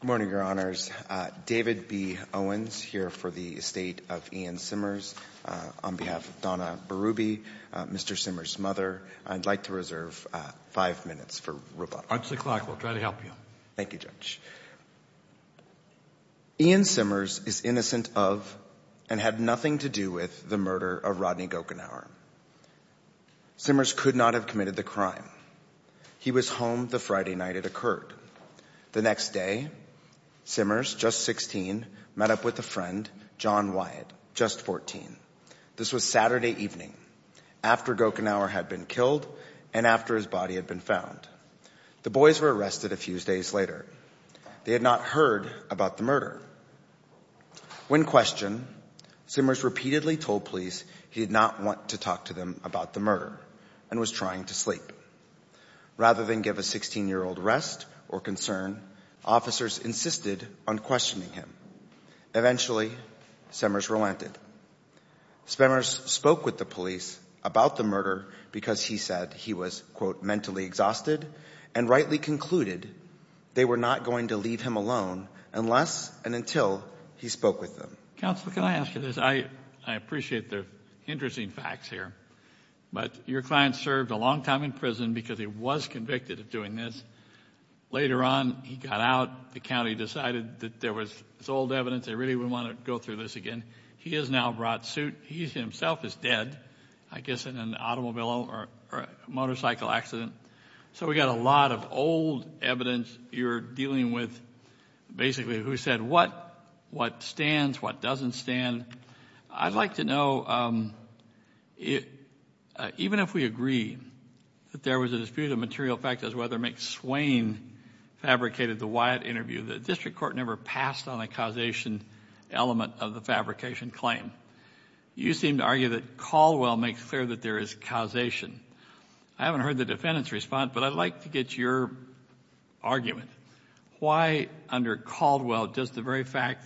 Good morning, Your Honors. David B. Owens here for the estate of Ian Simmers. On behalf of Donna Berube, Mr. Simmers' mother, I'd like to reserve five minutes for rebuttal. Once o'clock, we'll try to help you. Thank you, Judge. Ian Simmers is innocent of and had nothing to do with the murder of Rodney Gokenhauer. Simmers could not have committed the crime. He was home the Friday night it occurred. The next day, Simmers, just 16, met up with a friend, John Wyatt, just 14. This was Saturday evening, after Gokenhauer had been killed and after his body had been found. The boys were arrested a few days later. They had not heard about the murder. When questioned, Simmers repeatedly told police he did not want to talk to them about the murder and was trying to sleep. Rather than give a 16-year-old rest or concern, officers insisted on questioning him. Eventually, Simmers relented. Simmers spoke with the police about the murder because he said he was, quote, mentally exhausted, and rightly concluded they were not going to leave him alone unless and until he spoke with them. Counsel, can I ask you this? I appreciate the interesting facts here. But your client served a long time in prison because he was convicted of doing this. Later on, he got out. The county decided that there was old evidence. They really wouldn't want to go through this again. He has now brought suit. He himself is dead, I guess, in an automobile or motorcycle accident. So we've got a lot of old evidence. You're dealing with basically who said what, what stands, what doesn't stand. I'd like to know, even if we agree that there was a dispute of material fact as to whether McSwain fabricated the Wyatt interview, the district court never passed on the causation element of the fabrication claim. You seem to argue that Caldwell makes clear that there is causation. I haven't heard the defendant's response, but I'd like to get your argument. Why, under Caldwell, does the very fact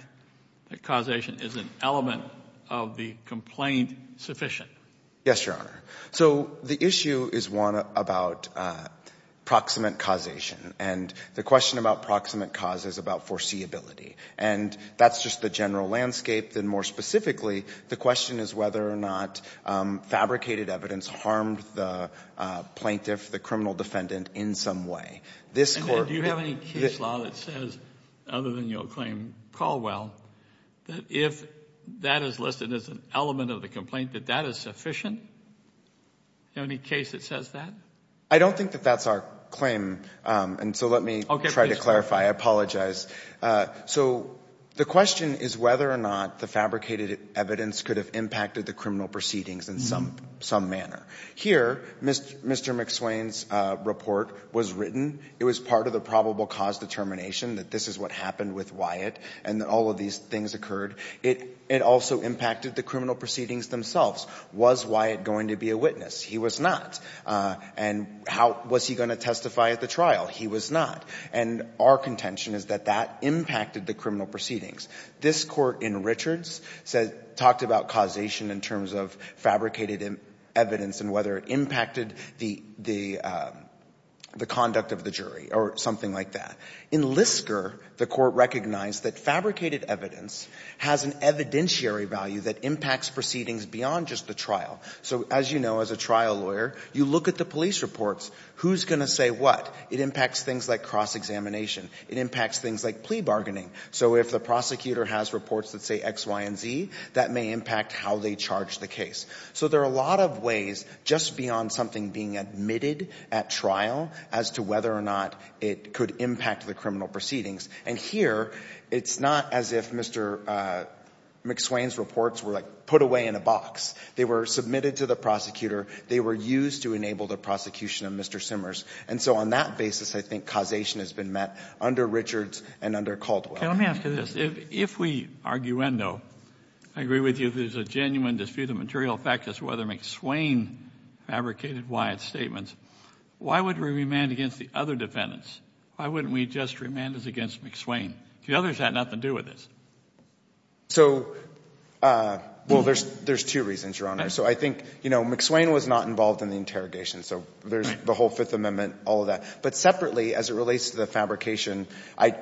that causation is an element of the complaint sufficient? Yes, Your Honor. So the issue is one about proximate causation. And the question about proximate cause is about foreseeability. And that's just the general landscape. Then, more specifically, the question is whether or not fabricated evidence harmed the plaintiff, the criminal defendant, in some way. Do you have any case law that says, other than your claim Caldwell, that if that is listed as an element of the complaint, that that is sufficient? Do you have any case that says that? I don't think that that's our claim, and so let me try to clarify. I apologize. So the question is whether or not the fabricated evidence could have impacted the criminal proceedings in some manner. Here, Mr. McSwain's report was written. It was part of the probable cause determination that this is what happened with Wyatt and that all of these things occurred. It also impacted the criminal proceedings themselves. Was Wyatt going to be a witness? He was not. And was he going to testify at the trial? He was not. And our contention is that that impacted the criminal proceedings. This court in Richards talked about causation in terms of fabricated evidence and whether it impacted the conduct of the jury or something like that. In Lisker, the court recognized that fabricated evidence has an evidentiary value that impacts proceedings beyond just the trial. So, as you know, as a trial lawyer, you look at the police reports. Who's going to say what? It impacts things like cross-examination. It impacts things like plea bargaining. So if the prosecutor has reports that say X, Y, and Z, that may impact how they charge the case. So there are a lot of ways just beyond something being admitted at trial as to whether or not it could impact the criminal proceedings. And here, it's not as if Mr. McSwain's reports were, like, put away in a box. They were submitted to the prosecutor. They were used to enable the prosecution of Mr. Simmers. And so on that basis, I think causation has been met under Richards and under Caldwell. Let me ask you this. If we, arguendo, agree with you that there's a genuine dispute of material fact as to whether McSwain fabricated Wyatt's statements, why wouldn't we remand against the other defendants? Why wouldn't we just remand this against McSwain? The others had nothing to do with this. So, well, there's two reasons, Your Honor. So I think, you know, McSwain was not involved in the interrogation. So there's the whole Fifth Amendment, all of that. But separately, as it relates to the fabrication,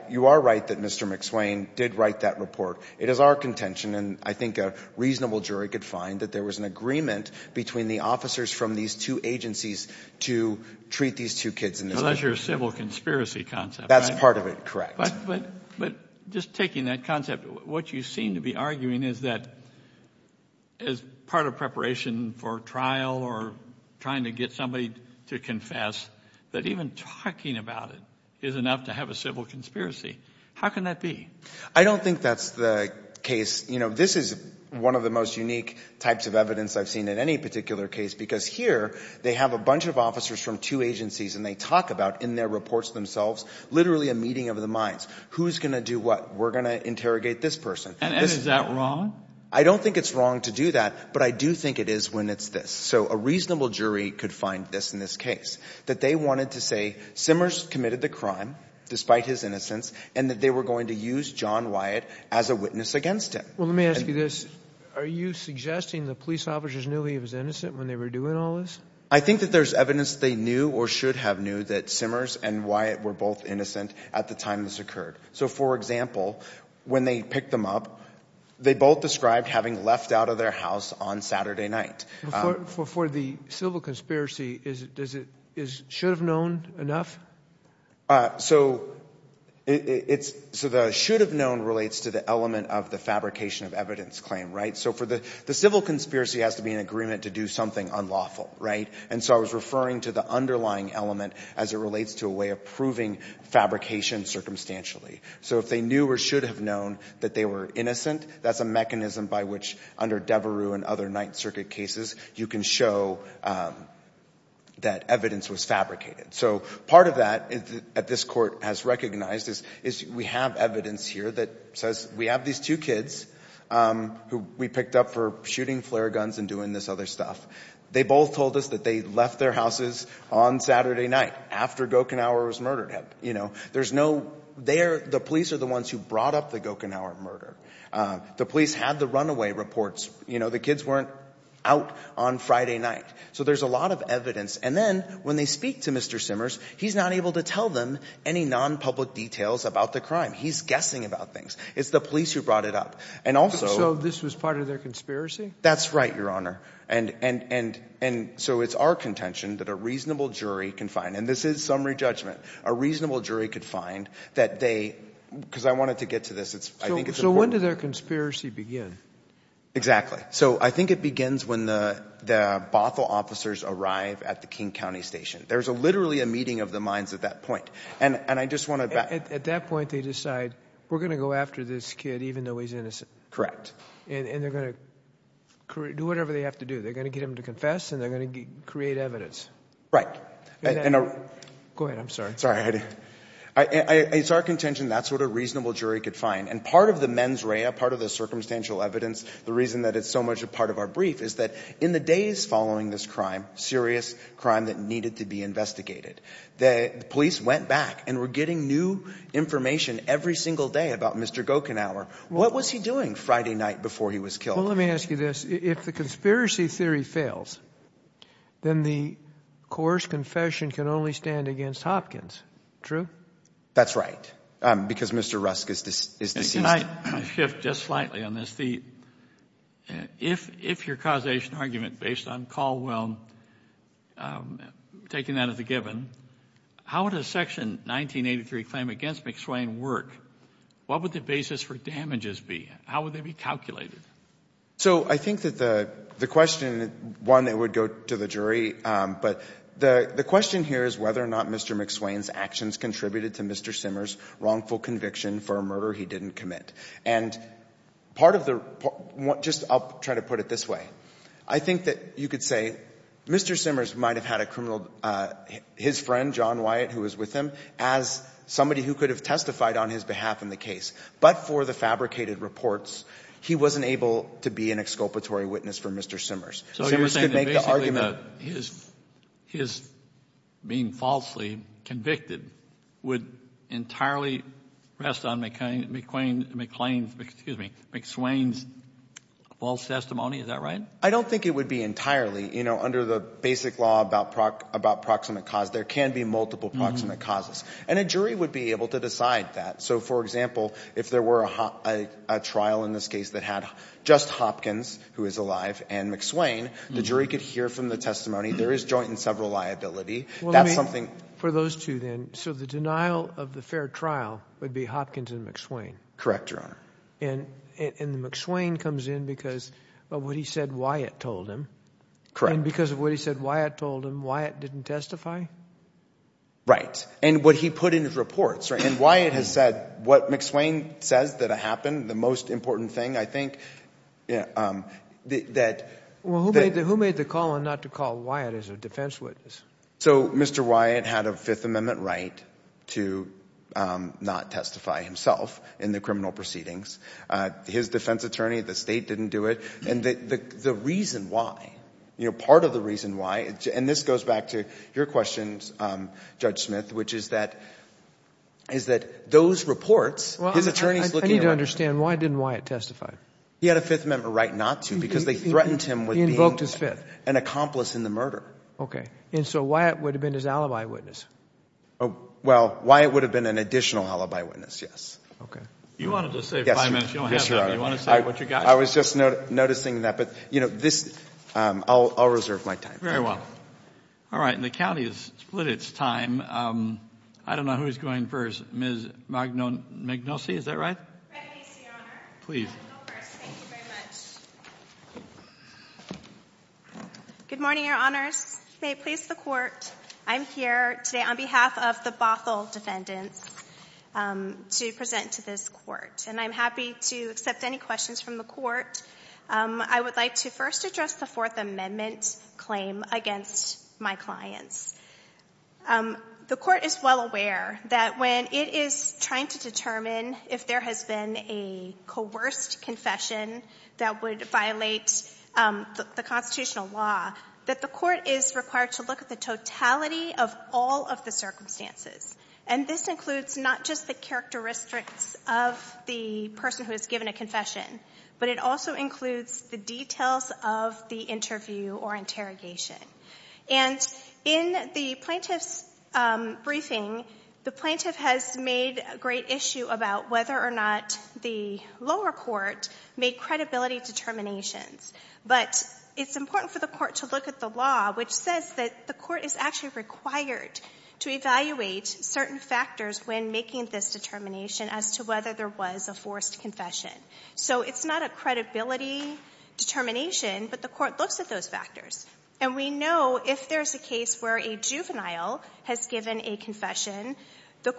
you are right that Mr. McSwain did write that report. It is our contention, and I think a reasonable jury could find, that there was an agreement between the officers from these two agencies to treat these two kids in this way. Well, that's your civil conspiracy concept, right? That's part of it, correct. But just taking that concept, what you seem to be arguing is that as part of preparation for trial or trying to get somebody to confess, that even talking about it is enough to have a civil conspiracy. How can that be? I don't think that's the case. You know, this is one of the most unique types of evidence I've seen in any particular case, because here they have a bunch of officers from two agencies and they talk about, in their reports themselves, literally a meeting of the minds. Who's going to do what? We're going to interrogate this person. And is that wrong? I don't think it's wrong to do that, but I do think it is when it's this. So a reasonable jury could find this in this case, that they wanted to say Simmers committed the crime despite his innocence and that they were going to use John Wyatt as a witness against him. Well, let me ask you this. Are you suggesting the police officers knew he was innocent when they were doing all this? I think that there's evidence they knew or should have knew that Simmers and Wyatt were both innocent at the time this occurred. So, for example, when they picked them up, they both described having left out of their house on Saturday night. For the civil conspiracy, is should have known enough? So the should have known relates to the element of the fabrication of evidence claim, right? So the civil conspiracy has to be in agreement to do something unlawful, right? And so I was referring to the underlying element as it relates to a way of proving fabrication circumstantially. So if they knew or should have known that they were innocent, that's a mechanism by which, under Devereux and other Ninth Circuit cases, you can show that evidence was fabricated. So part of that, as this court has recognized, is we have evidence here that says we have these two kids who we picked up for shooting flare guns and doing this other stuff. They both told us that they left their houses on Saturday night after Gochenauer was murdered. There's no – the police are the ones who brought up the Gochenauer murder. The police had the runaway reports. The kids weren't out on Friday night. So there's a lot of evidence. And then when they speak to Mr. Simmers, he's not able to tell them any nonpublic details about the crime. He's guessing about things. It's the police who brought it up. And also – So this was part of their conspiracy? That's right, Your Honor. And so it's our contention that a reasonable jury can find – and this is summary judgment. A reasonable jury could find that they – because I wanted to get to this. I think it's important. So when did their conspiracy begin? Exactly. So I think it begins when the Bothell officers arrive at the King County station. There's literally a meeting of the minds at that point. And I just want to – At that point, they decide we're going to go after this kid even though he's innocent. Correct. And they're going to do whatever they have to do. They're going to get him to confess and they're going to create evidence. Right. Go ahead. It's our contention that's what a reasonable jury could find. And part of the mens rea, part of the circumstantial evidence, the reason that it's so much a part of our brief, is that in the days following this crime, serious crime that needed to be investigated, the police went back and were getting new information every single day about Mr. Gochenauer. What was he doing Friday night before he was killed? Well, let me ask you this. If the conspiracy theory fails, then the Coors confession can only stand against Hopkins. True? That's right. Because Mr. Rusk is deceased. Can I shift just slightly on this? If your causation argument based on Caldwell, taking that as a given, how would a Section 1983 claim against McSwain work? What would the basis for damages be? How would they be calculated? So I think that the question, one, it would go to the jury. But the question here is whether or not Mr. McSwain's actions contributed to Mr. Simmers' wrongful conviction for a murder he didn't commit. And part of the report, just I'll try to put it this way. I think that you could say Mr. Simmers might have had a criminal, his friend, John Wyatt, who was with him, as somebody who could have testified on his behalf in the case. But for the fabricated reports, he wasn't able to be an exculpatory witness for Mr. Simmers. So you're saying that basically his being falsely convicted would entirely rest on McSwain's false testimony? Is that right? I don't think it would be entirely. Under the basic law about proximate cause, there can be multiple proximate causes. And a jury would be able to decide that. So, for example, if there were a trial in this case that had just Hopkins, who is alive, and McSwain, the jury could hear from the testimony. There is joint and several liability. That's something. For those two, then, so the denial of the fair trial would be Hopkins and McSwain? Correct, Your Honor. And McSwain comes in because of what he said Wyatt told him. Correct. And because of what he said Wyatt told him, Wyatt didn't testify? Right. And what he put in his reports. And Wyatt has said what McSwain says that happened, the most important thing, I think, that— Well, who made the call not to call Wyatt as a defense witness? So Mr. Wyatt had a Fifth Amendment right to not testify himself in the criminal proceedings. His defense attorney, the state, didn't do it. And the reason why, you know, part of the reason why, and this goes back to your questions, Judge Smith, which is that those reports, his attorney is looking at them. I need to understand, why didn't Wyatt testify? He had a Fifth Amendment right not to because they threatened him with being an accomplice in the murder. Okay. And so Wyatt would have been his alibi witness? Well, Wyatt would have been an additional alibi witness, yes. Okay. You wanted to save five minutes. Yes, Your Honor. Do you want to say what you got? I was just noticing that. But, you know, this—I'll reserve my time. Very well. All right. And the county has split its time. I don't know who's going first. Ms. Magnosi, is that right? Fred Macy, Your Honor. Please. I'll go first. Thank you very much. Good morning, Your Honors. May it please the Court, I'm here today on behalf of the Bothell defendants to present to this Court. And I'm happy to accept any questions from the Court. I would like to first address the Fourth Amendment claim against my clients. The Court is well aware that when it is trying to determine if there has been a coerced confession that would violate the constitutional law, that the Court is required to look at the totality of all of the circumstances. And this includes not just the characteristics of the person who has given a confession, but it also includes the details of the interview or interrogation. And in the plaintiff's briefing, the plaintiff has made a great issue about whether or not the lower court made credibility determinations. But it's important for the Court to look at the law, which says that the Court is actually required to evaluate certain factors when making this determination as to whether there was a forced confession. So it's not a credibility determination, but the Court looks at those factors. And we know if there's a case where a juvenile has given a confession, the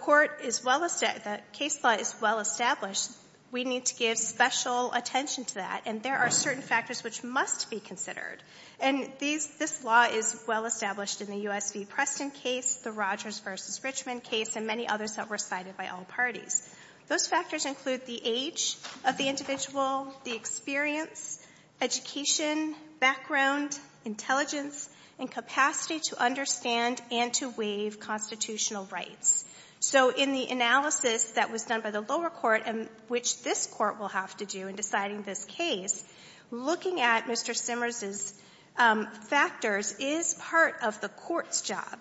case law is well established. We need to give special attention to that. And there are certain factors which must be considered. And this law is well established in the U.S. v. Preston case, the Rogers v. Richmond case, and many others that were cited by all parties. Those factors include the age of the individual, the experience, education, background, intelligence, and capacity to understand and to waive constitutional rights. So in the analysis that was done by the lower court, which this Court will have to do in deciding this case, looking at Mr. Simmers' factors is part of the Court's job.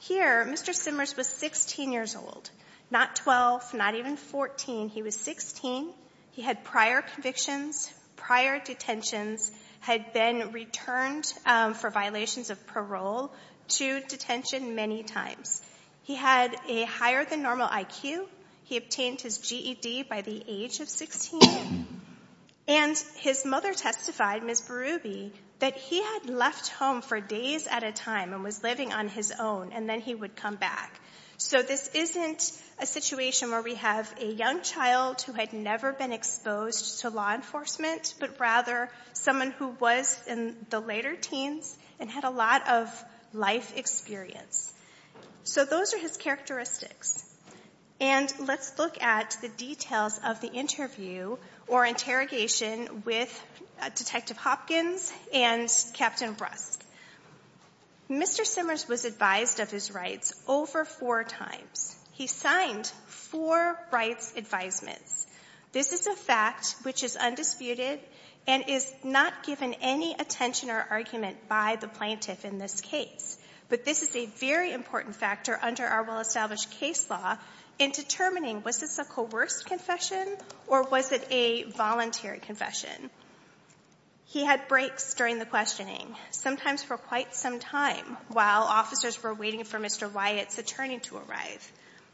Here, Mr. Simmers was 16 years old, not 12, not even 14. He was 16. He had prior convictions, prior detentions, had been returned for violations of parole to detention many times. He had a higher-than-normal IQ. He obtained his GED by the age of 16. And his mother testified, Ms. Berube, that he had left home for days at a time and was living on his own, and then he would come back. So this isn't a situation where we have a young child who had never been exposed to law enforcement, but rather someone who was in the later teens and had a lot of life experience. So those are his characteristics. And let's look at the details of the interview or interrogation with Detective Hopkins and Captain Rust. Mr. Simmers was advised of his rights over four times. He signed four rights advisements. This is a fact which is undisputed and is not given any attention or argument by the plaintiff in this case. But this is a very important factor under our well-established case law in determining, was this a coerced confession or was it a voluntary confession? He had breaks during the questioning, sometimes for quite some time, while officers were waiting for Mr. Wyatt's attorney to arrive.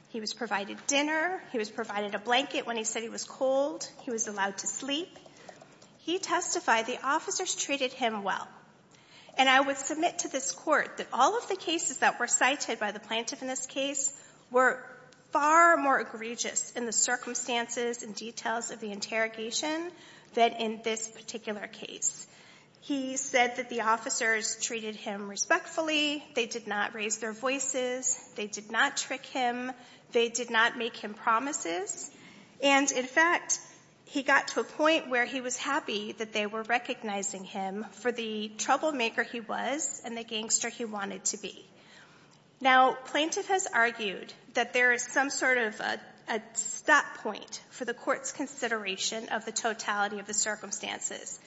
He was provided dinner. He was provided a blanket when he said he was cold. He was allowed to sleep. He testified the officers treated him well. And I would submit to this court that all of the cases that were cited by the plaintiff in this case were far more egregious in the circumstances and details of the interrogation than in this particular case. He said that the officers treated him respectfully. They did not raise their voices. They did not trick him. They did not make him promises. And, in fact, he got to a point where he was happy that they were recognizing him for the troublemaker he was and the gangster he wanted to be. Now, plaintiff has argued that there is some sort of a stop point for the court's consideration of the totality of the circumstances.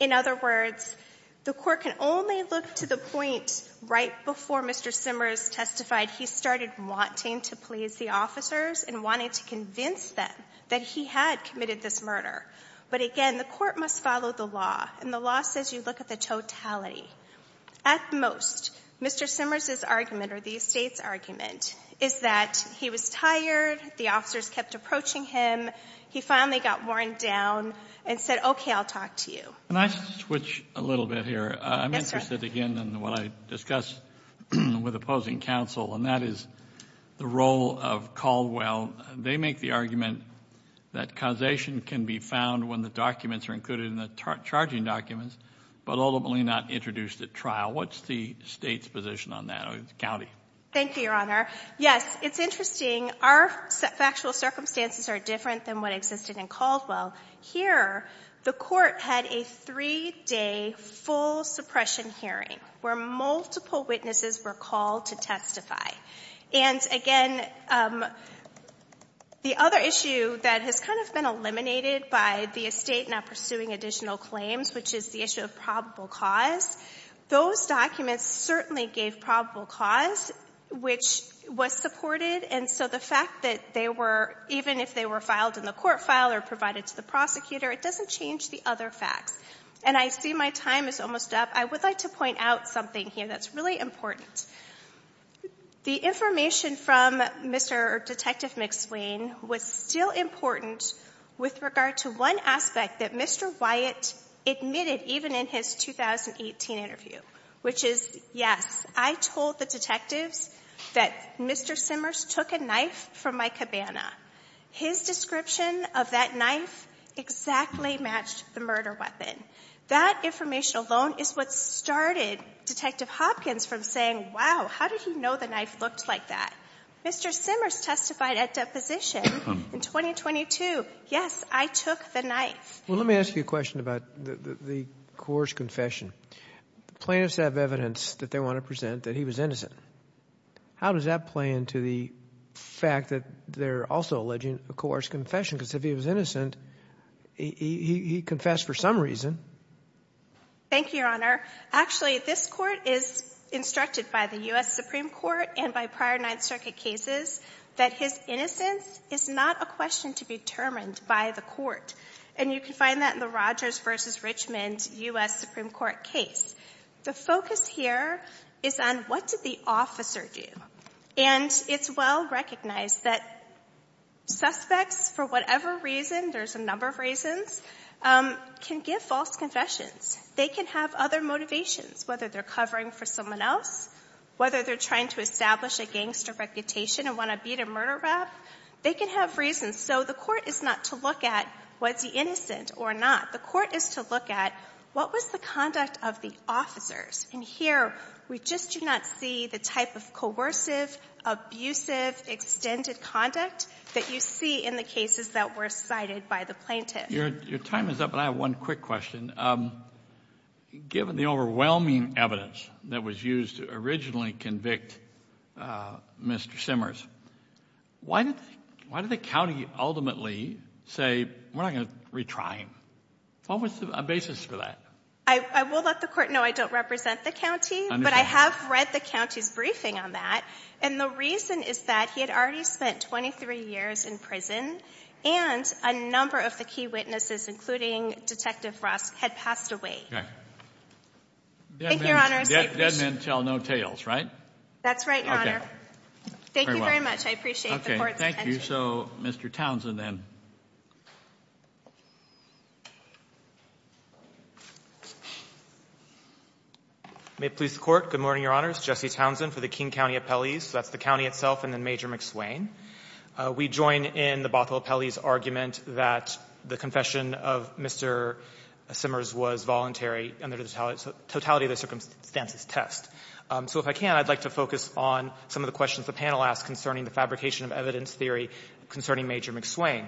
In other words, the court can only look to the point right before Mr. Simmers testified he started wanting to please the officers and wanting to convince them that he had committed this murder. But, again, the court must follow the law, and the law says you look at the totality. At most, Mr. Simmers' argument, or the estate's argument, is that he was tired, the officers kept approaching him, he finally got worn down, and said, okay, I'll talk to you. Can I switch a little bit here? Yes, sir. I'm interested again in what I discussed with opposing counsel, and that is the role of Caldwell. They make the argument that causation can be found when the documents are included in the charging documents, but ultimately not introduced at trial. What's the State's position on that, or the county? Thank you, Your Honor. Yes, it's interesting. Our factual circumstances are different than what existed in Caldwell. Here, the court had a three-day full suppression hearing where multiple witnesses were called to testify. And, again, the other issue that has kind of been eliminated by the estate not pursuing additional claims, which is the issue of probable cause, those documents certainly gave probable cause, which was supported, and so the fact that they were, even if they were filed in the court file or provided to the prosecutor, it doesn't change the other facts. And I see my time is almost up. I would like to point out something here that's really important. The information from Mr. Detective McSwain was still important with regard to one aspect that Mr. Wyatt admitted even in his 2018 interview, which is, yes, I told the detectives that Mr. Simmers took a knife from my cabana. His description of that knife exactly matched the murder weapon. That information alone is what started Detective Hopkins from saying, wow, how did he know the knife looked like that? Mr. Simmers testified at deposition in 2022. Yes, I took the knife. Well, let me ask you a question about the coerced confession. Plaintiffs have evidence that they want to present that he was innocent. How does that play into the fact that they're also alleging a coerced confession? Because if he was innocent, he confessed for some reason. Thank you, Your Honor. Actually, this court is instructed by the U.S. Supreme Court and by prior Ninth Circuit cases that his innocence is not a question to be determined by the court. And you can find that in the Rogers v. Richmond U.S. Supreme Court case. The focus here is on what did the officer do? And it's well recognized that suspects, for whatever reason, there's a number of reasons, can give false confessions. They can have other motivations, whether they're covering for someone else, whether they're trying to establish a gangster reputation and want to beat a murder rap. They can have reasons. So the court is not to look at was he innocent or not. The court is to look at what was the conduct of the officers. And here we just do not see the type of coercive, abusive, extended conduct that you see in the cases that were cited by the plaintiff. Your time is up, but I have one quick question. Given the overwhelming evidence that was used to originally convict Mr. Simmers, why did the county ultimately say, we're not going to retry him? What was the basis for that? I will let the court know I don't represent the county, but I have read the county's briefing on that. And the reason is that he had already spent 23 years in prison, and a number of the key witnesses, including Detective Rusk, had passed away. Thank you, Your Honor. Dead men tell no tales, right? That's right, Your Honor. Okay. Thank you very much. I appreciate the court's attention. Okay, thank you. So, Mr. Townsend, then. May it please the Court. Good morning, Your Honors. Jesse Townsend for the King County Appellees. That's the county itself and then Major McSwain. We join in the Bothell Appellees' argument that the confession of Mr. Simmers was voluntary under the totality of the circumstances test. So if I can, I'd like to focus on some of the questions the panel asked concerning the fabrication of evidence theory concerning Major McSwain.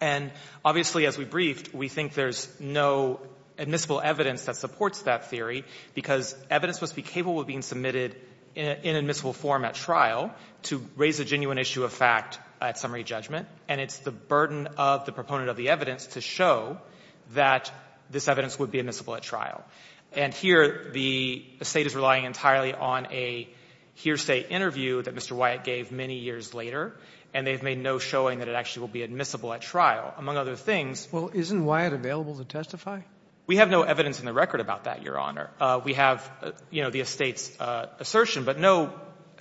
And obviously, as we briefed, we think there's no admissible evidence that supports that theory, because evidence must be capable of being submitted in an admissible form at trial to raise a genuine issue of fact at summary judgment. And it's the burden of the proponent of the evidence to show that this evidence would be admissible at trial. And here, the State is relying entirely on a hearsay interview that Mr. Wyatt gave many years later, and they've made no showing that it actually will be admissible at trial, among other things. Well, isn't Wyatt available to testify? We have no evidence in the record about that, Your Honor. We have, you know, the Estate's assertion, but no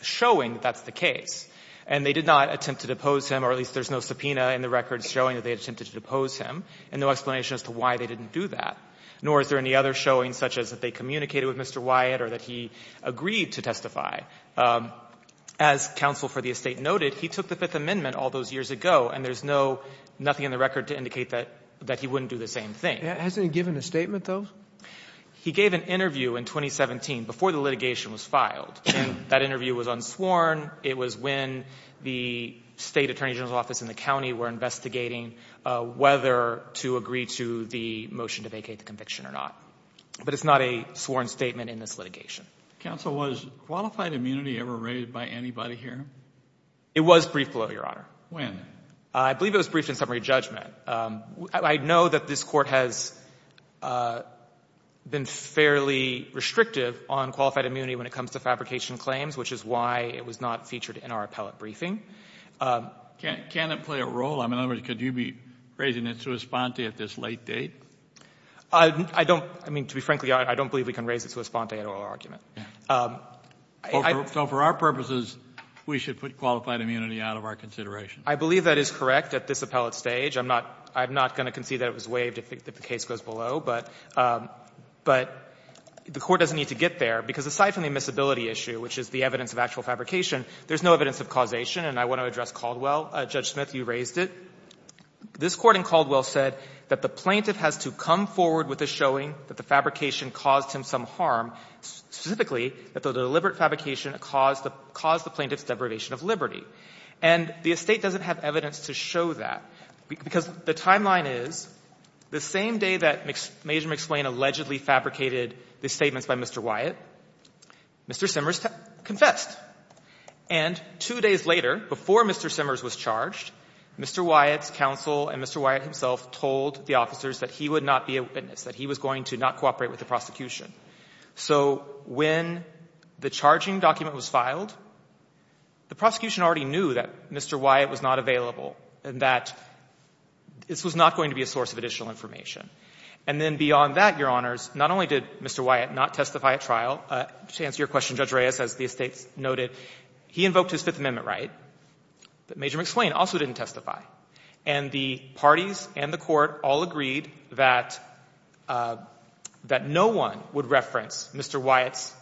showing that that's the case. And they did not attempt to depose him, or at least there's no subpoena in the records showing that they attempted to depose him, and no explanation as to why they didn't do that, nor is there any other showing such as that they communicated with Mr. Wyatt or that he agreed to testify. As counsel for the Estate noted, he took the Fifth Amendment all those years ago, and there's no — nothing in the record to indicate that he wouldn't do the same thing. Hasn't he given a statement, though? He gave an interview in 2017, before the litigation was filed. That interview was unsworn. It was when the State Attorney General's Office and the county were investigating whether to agree to the motion to vacate the conviction or not. But it's not a sworn statement in this litigation. Counsel, was qualified immunity ever rated by anybody here? It was briefed below, Your Honor. When? I believe it was briefed in summary judgment. I know that this Court has been fairly restrictive on qualified immunity when it comes to fabrication claims, which is why it was not featured in our appellate briefing. Can it play a role? I mean, in other words, could you be raising it sua sponte at this late date? I don't — I mean, to be frankly, I don't believe we can raise it sua sponte at oral argument. So for our purposes, we should put qualified immunity out of our consideration? I believe that is correct at this appellate stage. I'm not — I'm not going to concede that it was waived if the case goes below, but — but the Court doesn't need to get there, because aside from the admissibility issue, which is the evidence of actual fabrication, there's no evidence of causation. And I want to address Caldwell. Judge Smith, you raised it. This Court in Caldwell said that the plaintiff has to come forward with a showing that the fabrication caused him some harm, specifically that the deliberate fabrication caused the — caused the plaintiff's deprivation of liberty. And the estate doesn't have evidence to show that, because the timeline is the same day that Major McSwain allegedly fabricated the statements by Mr. Wyatt, Mr. Simmers confessed. And two days later, before Mr. Simmers was charged, Mr. Wyatt's counsel and Mr. Wyatt himself told the officers that he would not be a witness, that he was going to not cooperate with the prosecution. So when the charging document was filed, the prosecution already knew that Mr. Wyatt was not available and that this was not going to be a source of additional information. And then beyond that, Your Honors, not only did Mr. Wyatt not testify at trial, to answer your question, Judge Reyes, as the estates noted, he invoked his Fifth Amendment right, but Major McSwain also didn't testify. And the parties and the court all agreed that — that no one would reference Mr. Wyatt's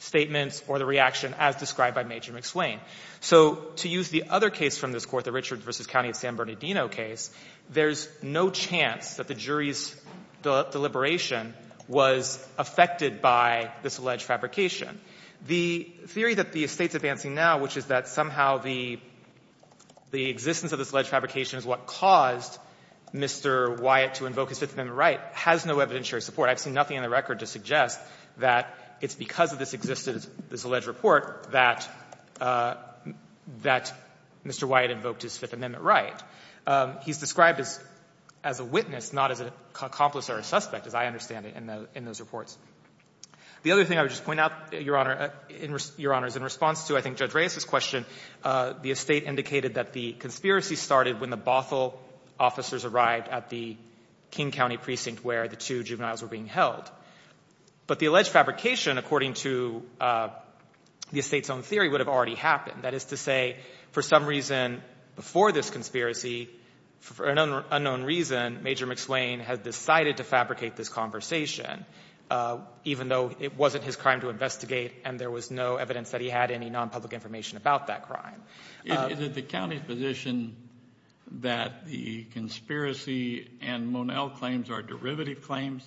statements or the reaction as described by Major McSwain. So to use the other case from this court, the Richards v. County of San Bernardino case, there's no chance that the jury's deliberation was affected by this alleged fabrication. The theory that the estate's advancing now, which is that somehow the — the existence of this alleged fabrication is what caused Mr. Wyatt to invoke his Fifth Amendment right, has no evidentiary support. I've seen nothing in the record to suggest that it's because of this existence — this alleged report that — that Mr. Wyatt invoked his Fifth Amendment right. He's described as — as a witness, not as an accomplice or a suspect, as I understand it, in the — in those reports. The other thing I would just point out, Your Honor — Your Honors, in response to, I think, Judge Reyes's question, the estate indicated that the conspiracy started when the Bothell officers arrived at the King County precinct where the two juveniles were being held. But the alleged fabrication, according to the estate's own theory, would have already happened. That is to say, for some reason before this conspiracy, for an unknown reason, Major McSwain had decided to fabricate this conversation, even though it wasn't his crime to investigate and there was no evidence that he had any nonpublic information about that crime. Is it the county's position that the conspiracy and Monell claims are derivative claims?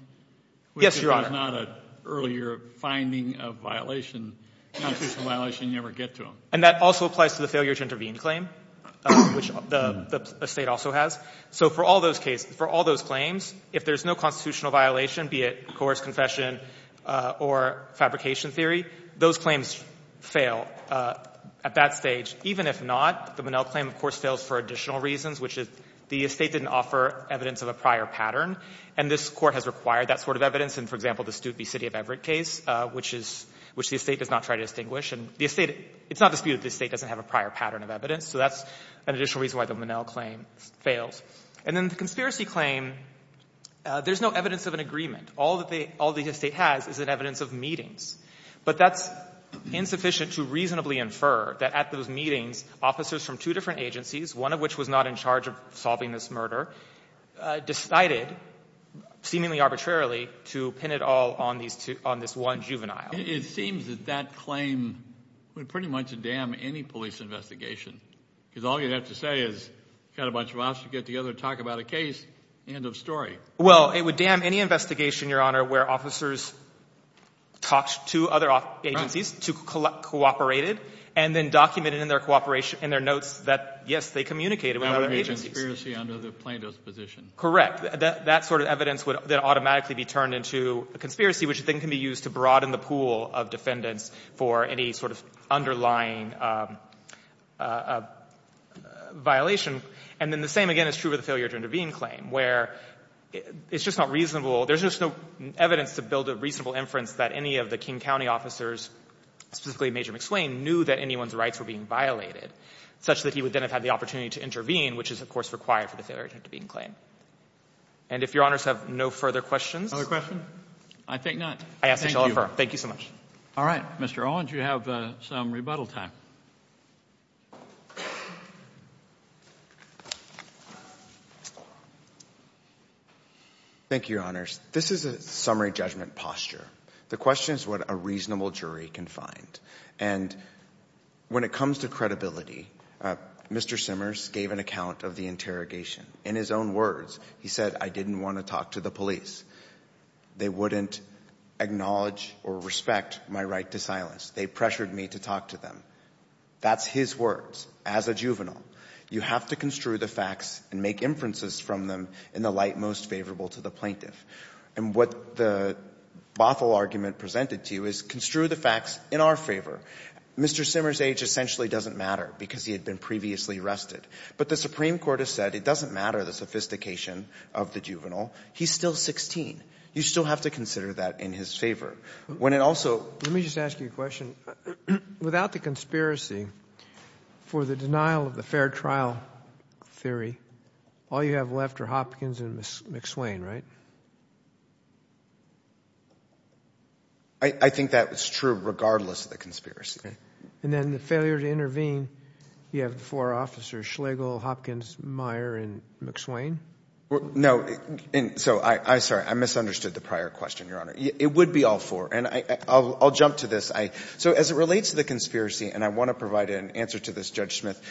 Yes, Your Honor. Which is not an earlier finding of violation, constitutional violation, you ever get to them? And that also applies to the failure to intervene claim, which the estate also has. So for all those cases, for all those claims, if there's no constitutional violation, be it coerced confession or fabrication theory, those claims fail at that stage. Even if not, the Monell claim, of course, fails for additional reasons, which is the estate didn't offer evidence of a prior pattern. And this Court has required that sort of evidence in, for example, the Studeby City of Everett case, which is — which the estate does not try to distinguish. And the estate — it's not disputed that the estate doesn't have a prior pattern of evidence. So that's an additional reason why the Monell claim fails. And then the conspiracy claim, there's no evidence of an agreement. All that they — all the estate has is an evidence of meetings. But that's insufficient to reasonably infer that at those meetings, officers from two different agencies, one of which was not in charge of solving this murder, decided, seemingly arbitrarily, to pin it all on these two — on this one juvenile. It seems that that claim would pretty much damn any police investigation, because all you'd have to say is, got a bunch of us to get together and talk about a case. End of story. Well, it would damn any investigation, Your Honor, where officers talked to other agencies, cooperated, and then documented in their cooperation — in their notes that, yes, they communicated with other agencies. That would be a conspiracy under the plaintiff's position. Correct. That sort of evidence would then automatically be turned into a conspiracy, which then can be used to broaden the pool of defendants for any sort of underlying violation. And then the same, again, is true of the failure to intervene claim, where it's just not reasonable — there's just no evidence to build a reasonable inference that any of the King County officers, specifically Major McSwain, knew that anyone's rights were being violated, such that he would then have had the opportunity to intervene, which is, of course, required for the failure to intervene claim. And if Your Honors have no further questions — No further questions? I think not. I ask that you all affirm. Thank you. Thank you so much. All right. Mr. Owens, you have some rebuttal time. Thank you, Your Honors. This is a summary judgment posture. The question is what a reasonable jury can find. And when it comes to credibility, Mr. Simmers gave an account of the interrogation. In his own words, he said, I didn't want to talk to the police. They wouldn't acknowledge or respect my right to silence. They pressured me to talk to them. That's his words. As a juvenile, you have to construe the facts and make inferences from them in the light most favorable to the plaintiff. And what the Bothell argument presented to you is construe the facts in our favor. Mr. Simmers' age essentially doesn't matter because he had been previously arrested. But the Supreme Court has said it doesn't matter the sophistication of the juvenile. He's still 16. You still have to consider that in his favor. When it also— Let me just ask you a question. Without the conspiracy for the denial of the fair trial theory, all you have left are Hopkins and McSwain, right? I think that's true regardless of the conspiracy. And then the failure to intervene, you have four officers, Schlegel, Hopkins, Meyer, and McSwain? No. So I'm sorry. I misunderstood the prior question, Your Honor. It would be all four. And I'll jump to this. So as it relates to the conspiracy, and I want to provide an answer to this, Judge Smith,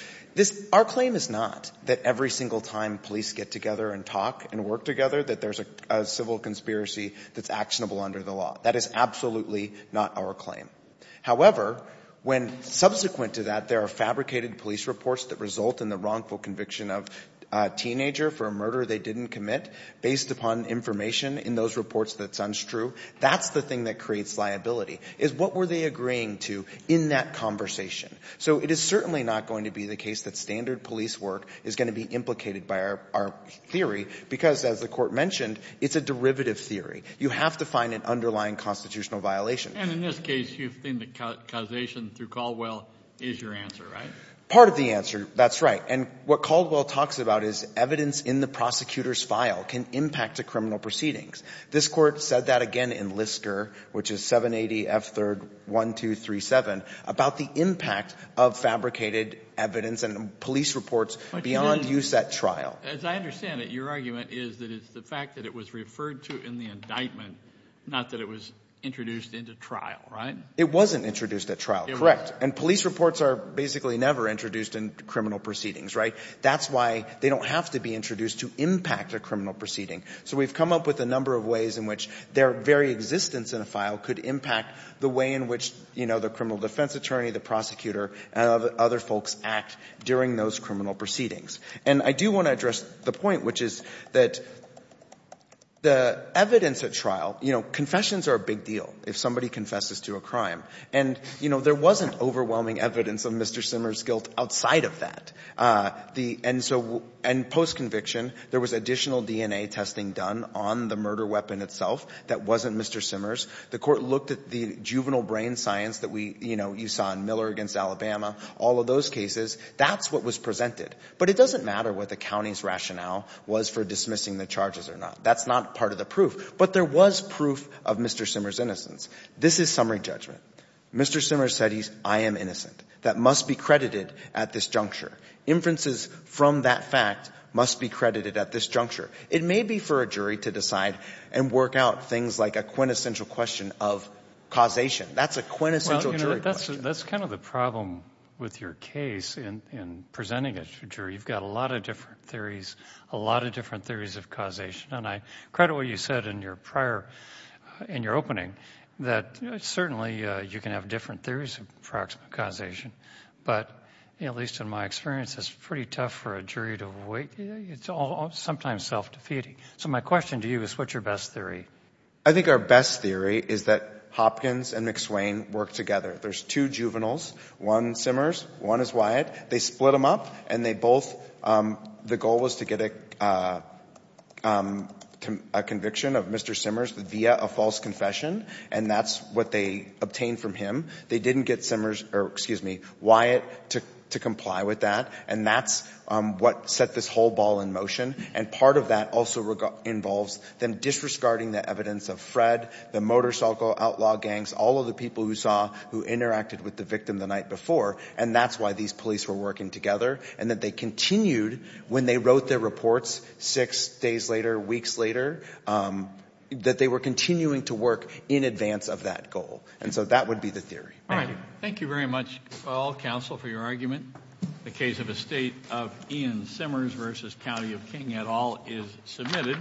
our claim is not that every single time police get together and talk and work together that there's a civil conspiracy that's actionable under the law. That is absolutely not our claim. However, when subsequent to that there are fabricated police reports that result in the wrongful conviction of a teenager for a murder they didn't commit based upon information in those reports that's untrue, that's the thing that creates liability is what were they agreeing to in that conversation. So it is certainly not going to be the case that standard police work is going to be implicated by our theory because, as the Court mentioned, it's a derivative theory. You have to find an underlying constitutional violation. And in this case, you think the causation through Caldwell is your answer, right? Part of the answer, that's right. And what Caldwell talks about is evidence in the prosecutor's file can impact a criminal proceedings. This Court said that again in LISCR, which is 780 F. 3rd. 1237, about the impact of fabricated evidence and police reports beyond use at trial. As I understand it, your argument is that it's the fact that it was referred to in the indictment, not that it was introduced into trial, right? It wasn't introduced at trial, correct. And police reports are basically never introduced in criminal proceedings, right? That's why they don't have to be introduced to impact a criminal proceeding. So we've come up with a number of ways in which their very existence in a file could impact the way in which, you know, the criminal defense attorney, the prosecutor, and other folks act during those criminal proceedings. And I do want to address the point, which is that the evidence at trial, you know, confessions are a big deal if somebody confesses to a crime. And, you know, there wasn't overwhelming evidence of Mr. Simmers' guilt outside of that. And so and post-conviction, there was additional DNA testing done on the murder weapon itself that wasn't Mr. Simmers. The Court looked at the juvenile brain science that we, you know, you saw in Miller against Alabama, all of those cases. That's what was presented. But it doesn't matter what the county's rationale was for dismissing the charges or not. That's not part of the proof. But there was proof of Mr. Simmers' innocence. This is summary judgment. Mr. Simmers said he's, I am innocent. That must be credited at this juncture. Inferences from that fact must be credited at this juncture. It may be for a jury to decide and work out things like a quintessential question of causation. That's a quintessential jury question. Well, you know, that's kind of the problem with your case in presenting it to a jury. You've got a lot of different theories, a lot of different theories of causation. And I credit what you said in your prior, in your opening, that certainly you can have different theories of proximate causation. But at least in my experience, it's pretty tough for a jury to wait. It's all sometimes self-defeating. So my question to you is what's your best theory? I think our best theory is that Hopkins and McSwain work together. There's two juveniles, one Simmers, one is Wyatt. They split them up. The goal was to get a conviction of Mr. Simmers via a false confession. And that's what they obtained from him. They didn't get Wyatt to comply with that. And that's what set this whole ball in motion. And part of that also involves them disregarding the evidence of Fred, the motorcycle outlaw gangs, all of the people who saw, who interacted with the victim the night before. And that's why these police were working together. And that they continued when they wrote their reports six days later, weeks later, that they were continuing to work in advance of that goal. And so that would be the theory. Thank you very much, all counsel, for your argument. The case of a State of Ian Simmers v. County of King et al. is submitted.